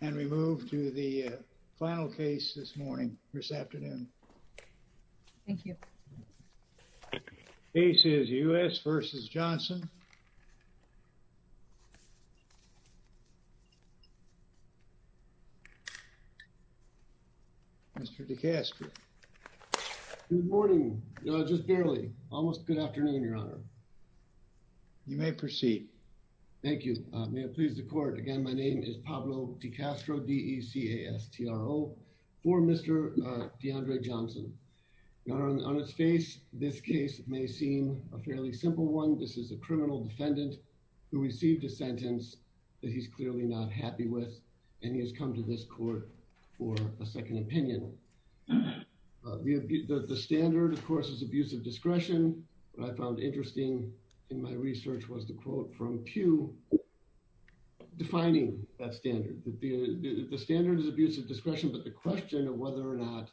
and we move to the final case this morning this afternoon thank you aces u.s. vs. Johnson mr. DeCastro good morning just barely almost good afternoon your honor you may proceed thank you may it is the court again my name is Pablo DeCastro d-e-c-a-s-t-r-o for mr. Deandre Johnson your honor on its face this case may seem a fairly simple one this is a criminal defendant who received a sentence that he's clearly not happy with and he has come to this court for a second opinion the standard of course is abusive discretion what I found interesting in my research was the quote from Pew defining that standard the standard is abusive discretion but the question of whether or not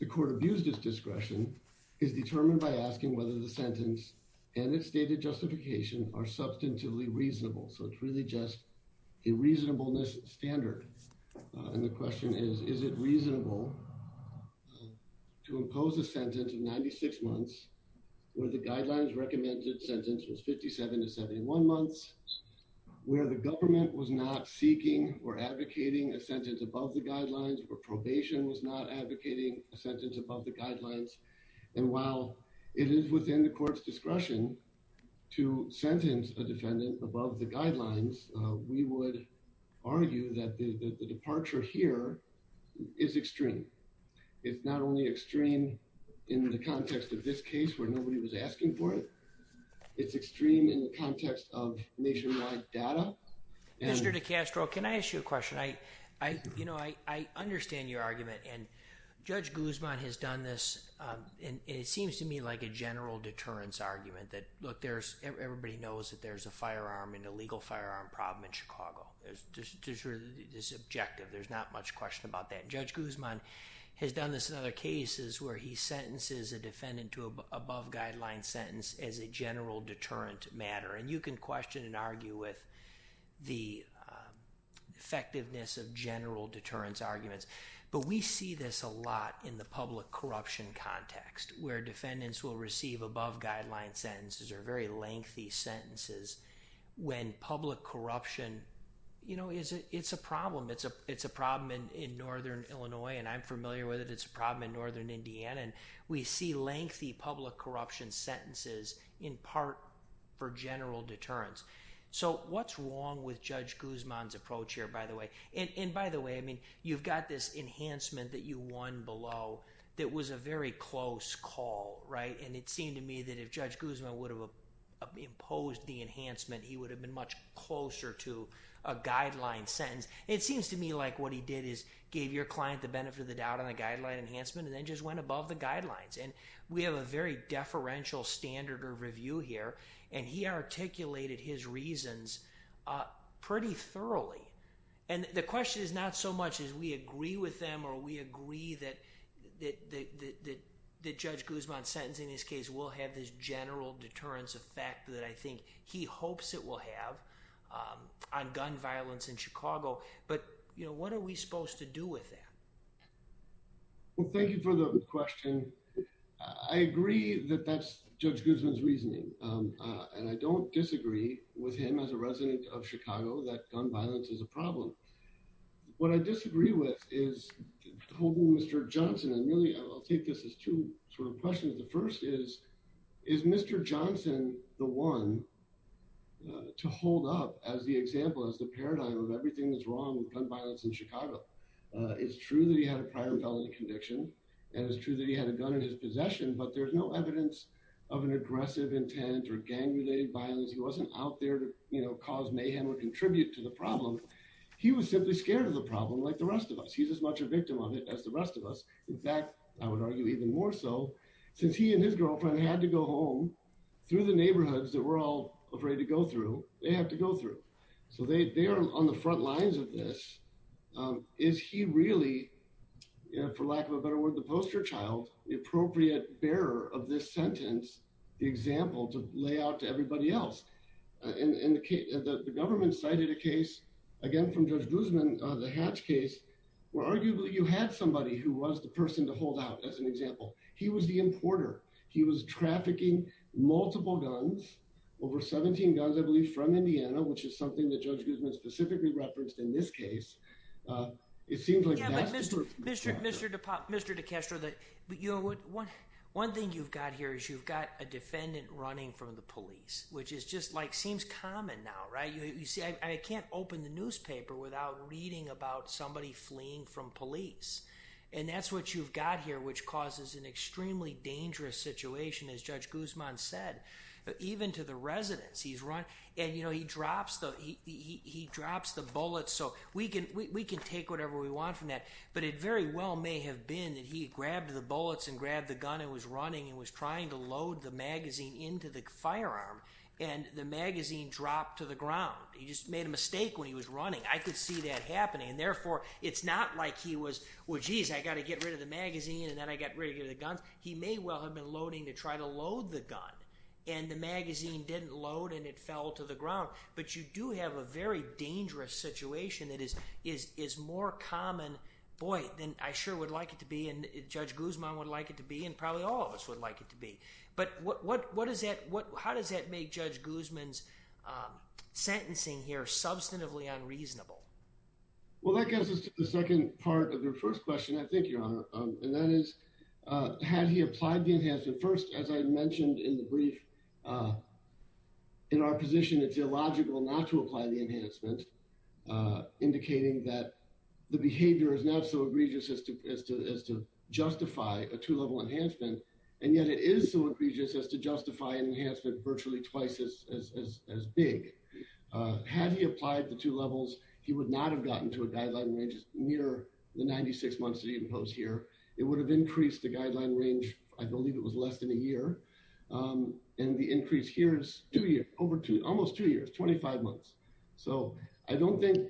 the court abused his discretion is determined by asking whether the sentence and its stated justification are substantively reasonable so it's really just a reasonableness standard and the question is is it reasonable to impose a sentence of 96 months where the guidelines recommended sentence was 57 to 71 months where the government was not seeking or advocating a sentence above the guidelines or probation was not advocating a sentence above the guidelines and while it is within the court's discretion to sentence a defendant above the guidelines we would argue that the departure here is extreme it's not only extreme in the context of this case where nobody was asking for it it's extreme in the context of nationwide data mr. DeCastro can I ask you a question I I you know I understand your argument and judge Guzman has done this and it seems to me like a general deterrence argument that look there's everybody knows that there's a firearm in a legal firearm problem in Chicago there's this objective there's not much question about that judge Guzman has done this in other cases where he sentences a defendant to above-guideline sentence as a general deterrent matter and you can question and argue with the effectiveness of general deterrence arguments but we see this a lot in the public corruption context where defendants will receive above-guideline sentences are very lengthy sentences when public corruption you know is it's a problem it's a it's a problem in in northern Illinois and I'm familiar with it it's a problem in northern Indiana and we see lengthy public corruption sentences in part for general deterrence so what's wrong with judge Guzman's approach here by the way and by the way I mean you've got this enhancement that you won below that was a very close call right and it seemed to me that if judge Guzman would have imposed the enhancement he would have been much closer to a guideline sentence it seems to me like what he did is gave your client the benefit of the doubt on a guidelines and we have a very deferential standard or review here and he articulated his reasons pretty thoroughly and the question is not so much as we agree with them or we agree that the judge Guzman sentencing this case will have this general deterrence effect that I think he hopes it will have on gun violence in Chicago but you know what are we supposed to do with that well thank you for the question I agree that that's judge Guzman's reasoning and I don't disagree with him as a resident of Chicago that gun violence is a problem what I disagree with is mr. Johnson and really I'll take this as two sort of questions the first is is mr. Johnson the one to hold up as the example as the paradigm of everything that's wrong with gun it's true that he had a prior felony conviction and it's true that he had a gun in his possession but there's no evidence of an aggressive intent or gang related violence he wasn't out there you know cause mayhem or contribute to the problem he was simply scared of the problem like the rest of us he's as much a victim of it as the rest of us in fact I would argue even more so since he and his girlfriend had to go home through the neighborhoods that were all afraid to go through they have to go through so they they are on the front lines of this is he really for lack of a better word the poster child the appropriate bearer of this sentence the example to lay out to everybody else indicate that the government cited a case again from judge Guzman the hatch case where arguably you had somebody who was the person to hold out as an example he was the importer he was trafficking multiple guns over 17 guns I believe from Indiana which is specifically referenced in this case it seems like mr. de pop mr. de Castro that but you know what one one thing you've got here is you've got a defendant running from the police which is just like seems common now right you see I can't open the newspaper without reading about somebody fleeing from police and that's what you've got here which causes an extremely dangerous situation as judge Guzman said even to the residents he's run and you know he drops the he drops the bullets so we can we can take whatever we want from that but it very well may have been that he grabbed the bullets and grabbed the gun and was running and was trying to load the magazine into the firearm and the magazine dropped to the ground he just made a mistake when he was running I could see that happening and therefore it's not like he was well geez I got to get rid of the magazine and then I got rid of the guns he may well have been loading to try to load the gun and the magazine didn't load and it fell to the dangerous situation that is is is more common boy then I sure would like it to be and judge Guzman would like it to be and probably all of us would like it to be but what what what is that what how does that make judge Guzman's sentencing here substantively unreasonable well that gets us to the second part of your first question I think your honor and that is has he applied the enhancement first as I mentioned in the brief in our position it's illogical not to apply the enhancement indicating that the behavior is not so egregious as to as to as to justify a two-level enhancement and yet it is so egregious as to justify an enhancement virtually twice as as big have you applied the two levels he would not have gotten to a guideline ranges near the 96 months that he imposed here it would have increased the guideline range I believe it was less than a year and the increase here is do you over to almost two years 25 months so I don't think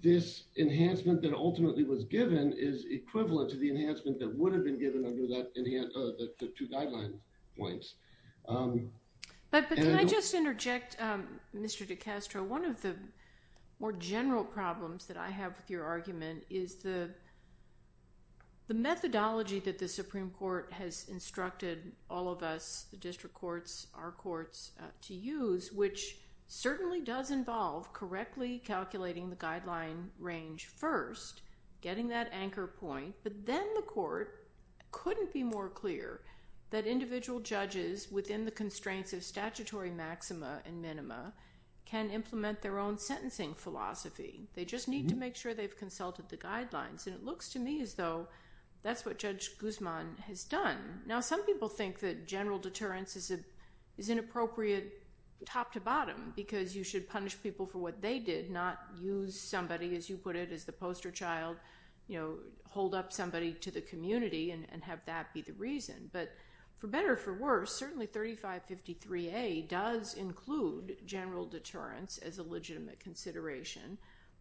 this enhancement that ultimately was given is equivalent to the enhancement that would have been given under that in the end the two guidelines points but I just interject mr. DeCastro one of the more general problems that I have with your argument is the the methodology that the Supreme Court has instructed all of us the district courts our courts to use which certainly does involve correctly calculating the guideline range first getting that anchor point but then the court couldn't be more clear that individual judges within the constraints of statutory maxima and minima can implement their own sentencing philosophy they just need to make sure they've consulted the guidelines and it looks to me as though that's what judge Guzman has done now some people think that general deterrence is it is appropriate top-to-bottom because you should punish people for what they did not use somebody as you put it is the poster child you know hold up somebody to the community and have that be the reason but for better for worse certainly 3553 a does include general deterrence as a legitimate consideration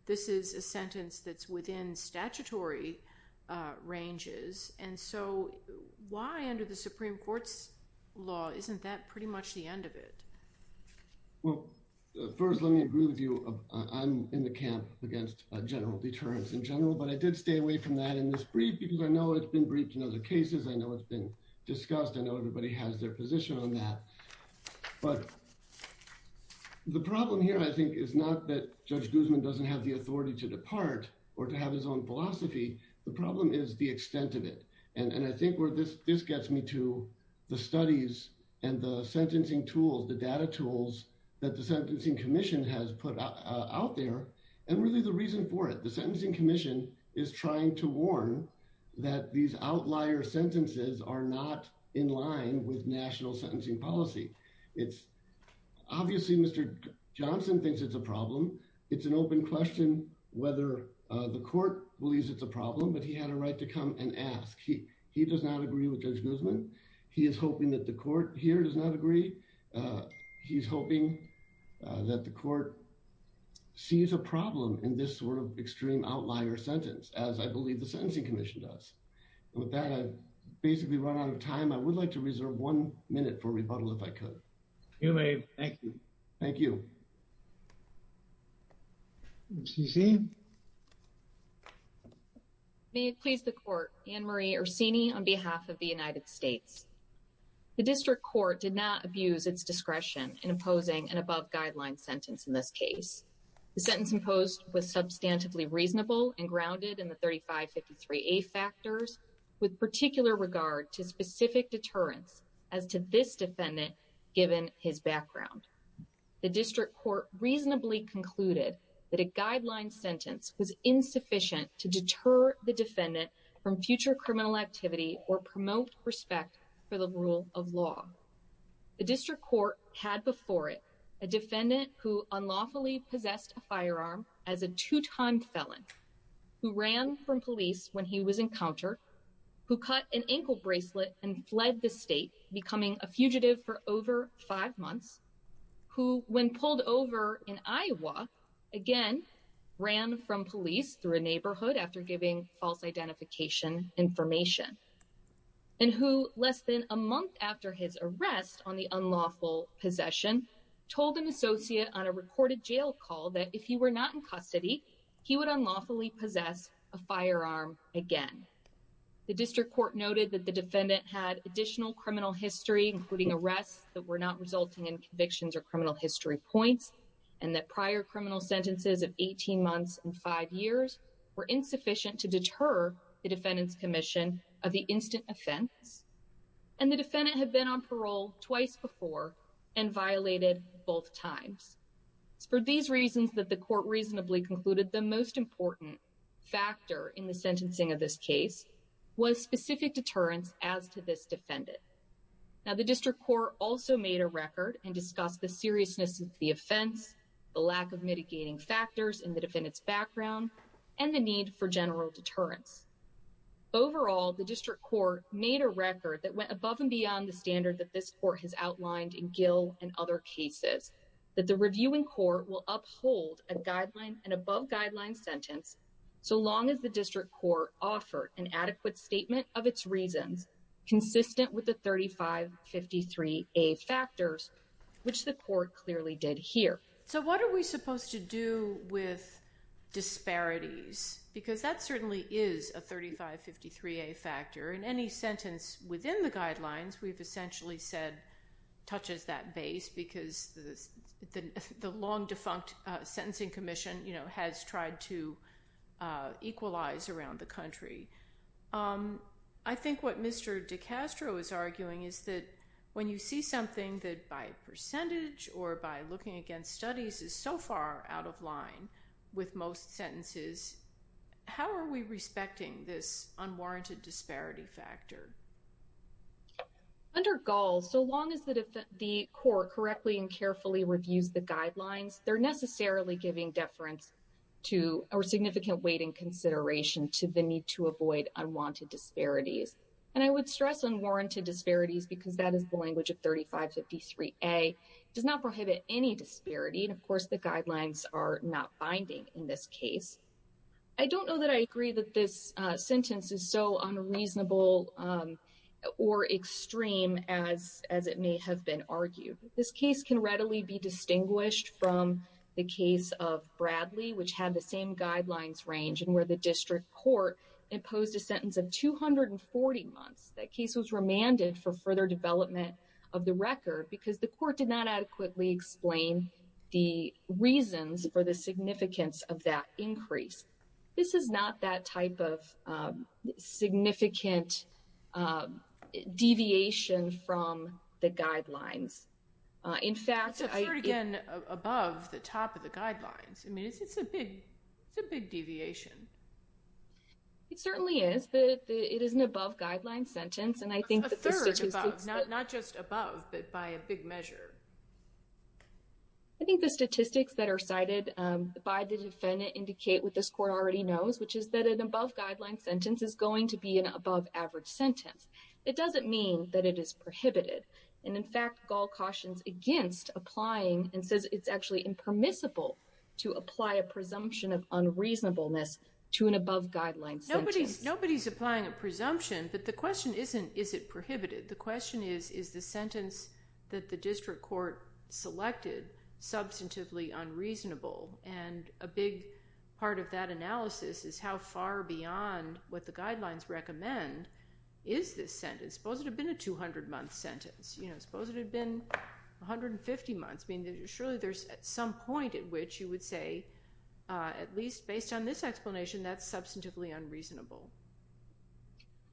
this is a sentence that's within statutory ranges and so why under the Supreme Court's law isn't that pretty much the end of it well first let me agree with you I'm in the camp against general deterrence in general but I did stay away from that in this brief because I know it's been briefed in other cases I know it's been discussed I know everybody has their position on that but the problem here I think is not that judge Guzman doesn't have the authority to depart or to have his own philosophy the problem is the the studies and the sentencing tools the data tools that the Sentencing Commission has put out there and really the reason for it the Sentencing Commission is trying to warn that these outlier sentences are not in line with national sentencing policy it's obviously mr. Johnson thinks it's a problem it's an open question whether the court believes it's a problem but he had a right to come and ask he he does not agree with judge Guzman he is hoping that the court here does not agree he's hoping that the court sees a problem in this sort of extreme outlier sentence as I believe the Sentencing Commission does with that I basically run out of time I would like to reserve one minute for rebuttal if I were Annemarie Orsini on behalf of the United States the district court did not abuse its discretion in opposing an above-guideline sentence in this case the sentence imposed was substantively reasonable and grounded in the 3553 a factors with particular regard to specific deterrence as to this defendant given his background the district court reasonably concluded that a guideline sentence was insufficient to deter the defendant from future criminal activity or promote respect for the rule of law the district court had before it a defendant who unlawfully possessed a firearm as a two-time felon who ran from police when he was encounter who cut an ankle bracelet and fled the state becoming a fugitive for over five months who when pulled over in Iowa again ran from police through a neighborhood after giving false identification information and who less than a month after his arrest on the unlawful possession told an associate on a recorded jail call that if he were not in custody he would unlawfully possess a firearm again the district court noted that the defendant had additional criminal history including arrests that were not resulting in convictions or criminal history points and that prior criminal sentences of 18 months and five years were insufficient to deter the defendant's Commission of the instant offense and the defendant had been on parole twice before and violated both times for these reasons that the court reasonably concluded the most important factor in the sentencing of this case was specific deterrence as to this defendant now the district court also made a record and discussed the seriousness of the offense the lack of mitigating factors in the defendant's background and the need for general deterrence overall the district court made a record that went above and beyond the standard that this court has outlined in Gill and other cases that the reviewing court will uphold a guideline and above guideline sentence so long as the district court offered an adequate statement of its reasons consistent with the 3553 a factors which the court clearly did here so what are we supposed to do with disparities because that certainly is a 3553 a factor in any sentence within the guidelines we've essentially said touches that base because the long defunct sentencing Commission you know has tried to equalize around the country I think what Mr. De Castro is arguing is that when you see something that by percentage or by looking against studies is so far out of line with most sentences how are we respecting this unwarranted disparity factor under goals so long as that if the court correctly and carefully reviews the guidelines they're necessarily giving deference to our significant weight in consideration to the need to avoid unwanted disparities and I would stress unwarranted disparities because that is the language of 3553 a does not prohibit any disparity and of course the guidelines are not binding in this case I don't know that I agree that this sentence is unreasonable or extreme as it may have been argued this case can readily be distinguished from the case of Bradley which had the same guidelines range and where the district court imposed a sentence of 240 months that case was remanded for further development of the record because the court did not adequately explain the reasons for the significance of that increase this is not that type of significant deviation from the guidelines in fact I again above the top of the guidelines it's a big deviation it certainly is but it is an above guideline sentence and I think that's not just above but by a big measure I think the statistics that are cited by the defendant indicate what this court already knows which is that an above guideline sentence is going to be an above-average sentence it doesn't mean that it is prohibited and in fact gall cautions against applying and says it's actually impermissible to apply a presumption of unreasonableness to an above guideline nobody's nobody's applying a presumption that the question isn't is it prohibited the question is is the sentence that the district court selected substantively unreasonable and a big part of that analysis is how far beyond what the guidelines recommend is this sentence suppose it had been a 200 month sentence you know suppose it had been 150 months mean that surely there's at some point at which you would say at least based on this explanation that's substantively unreasonable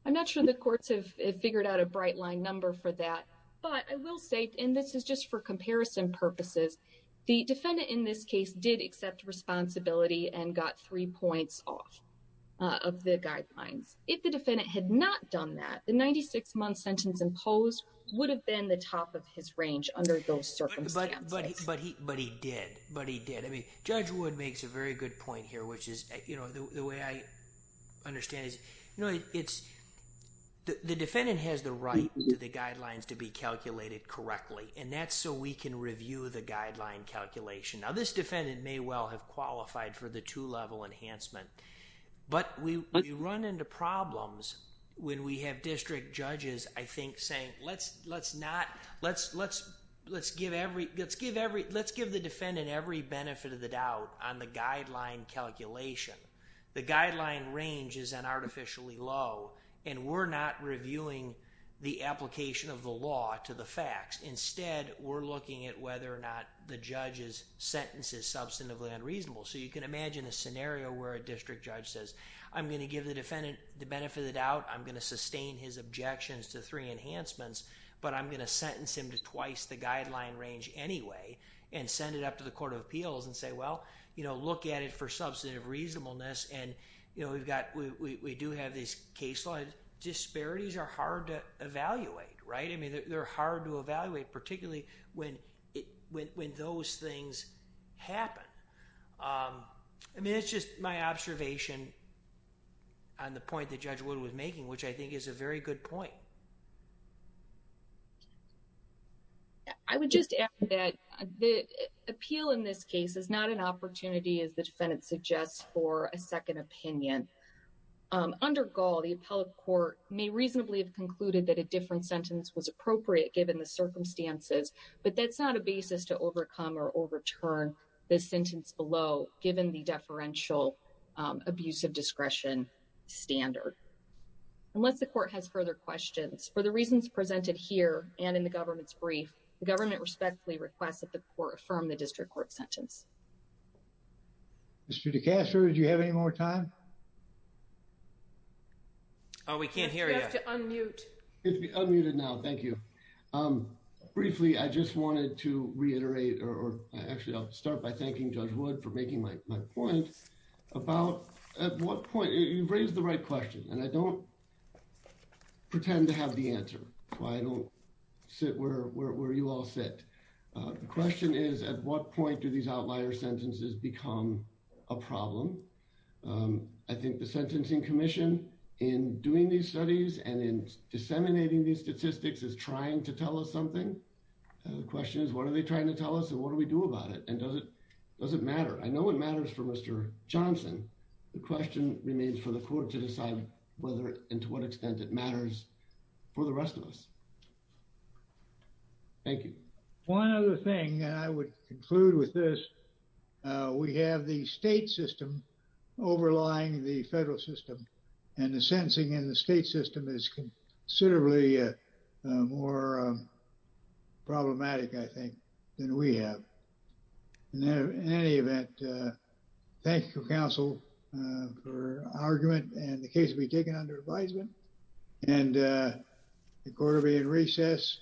I'm not sure the courts have figured out a bright line number for that but I will say and this is just for comparison purposes the defendant in this case did accept responsibility and got three points off of the guidelines if the defendant had not done that the 96 month sentence imposed would have been the top of his range under those circumstances but he but he did but he did I mean judge would makes a very good point here which is you know the way I understand is you know it's the defendant has the right to the guidelines to be calculated correctly and that's so we can review the guideline calculation now this defendant may well have qualified for the two-level enhancement but we run into problems when we have district judges I think saying let's let's not let's let's let's give every let's give every let's give the defendant every benefit of the doubt on the guideline calculation the guideline range is an artificially low and we're not reviewing the application of the law to the facts instead we're looking at whether or not the judge's sentence is substantively unreasonable so you can imagine a scenario where a district judge says I'm going to give the defendant the benefit of the doubt I'm going to sustain his objections to three enhancements but I'm going to sentence him to twice the guideline range anyway and send it up to the Court of Appeals and say well you know look at it for substantive reasonableness and you know we've got we do have this case like disparities are hard to evaluate right I mean they're hard to evaluate particularly when it when those things happen I mean it's just my observation on the point that Judge Wood was making which I think is a very good point. I would just add that the appeal in this case is not an opportunity as the defendant suggests for a second opinion under Gaul the appellate court may reasonably have concluded that a different sentence was appropriate given the circumstances but that's not a basis to overcome or overturn this sentence below given the deferential abusive discretion standard unless the court has further questions for the reasons presented here and in the government's brief the government respectfully requests that the court affirm the district court sentence. Mr. DeCastro, do you have any more time? Oh we can't hear you. You have to unmute. It's unmuted now thank you. Briefly I just wanted to reiterate or actually I'll start by thanking Judge Wood for making my point about at what point you raised the right question and I don't pretend to have the answer why I don't sit where you all sit the question is at what point do these outlier sentences become a problem I think the Sentencing Commission in doing these studies and in disseminating these statistics is trying to tell us something the question is what are they trying to tell us and what do we do about it and does it does it matter I know it matters for Mr. Johnson the question remains for the court to decide whether and to what extent it matters for the rest of us. Thank you. One other thing I would conclude with this we have the state system overlying the federal system and the sentencing in the state system is considerably more problematic I think than we have. Now in any event thank you counsel for argument and the case will be taken under advisement and the court will be in recess.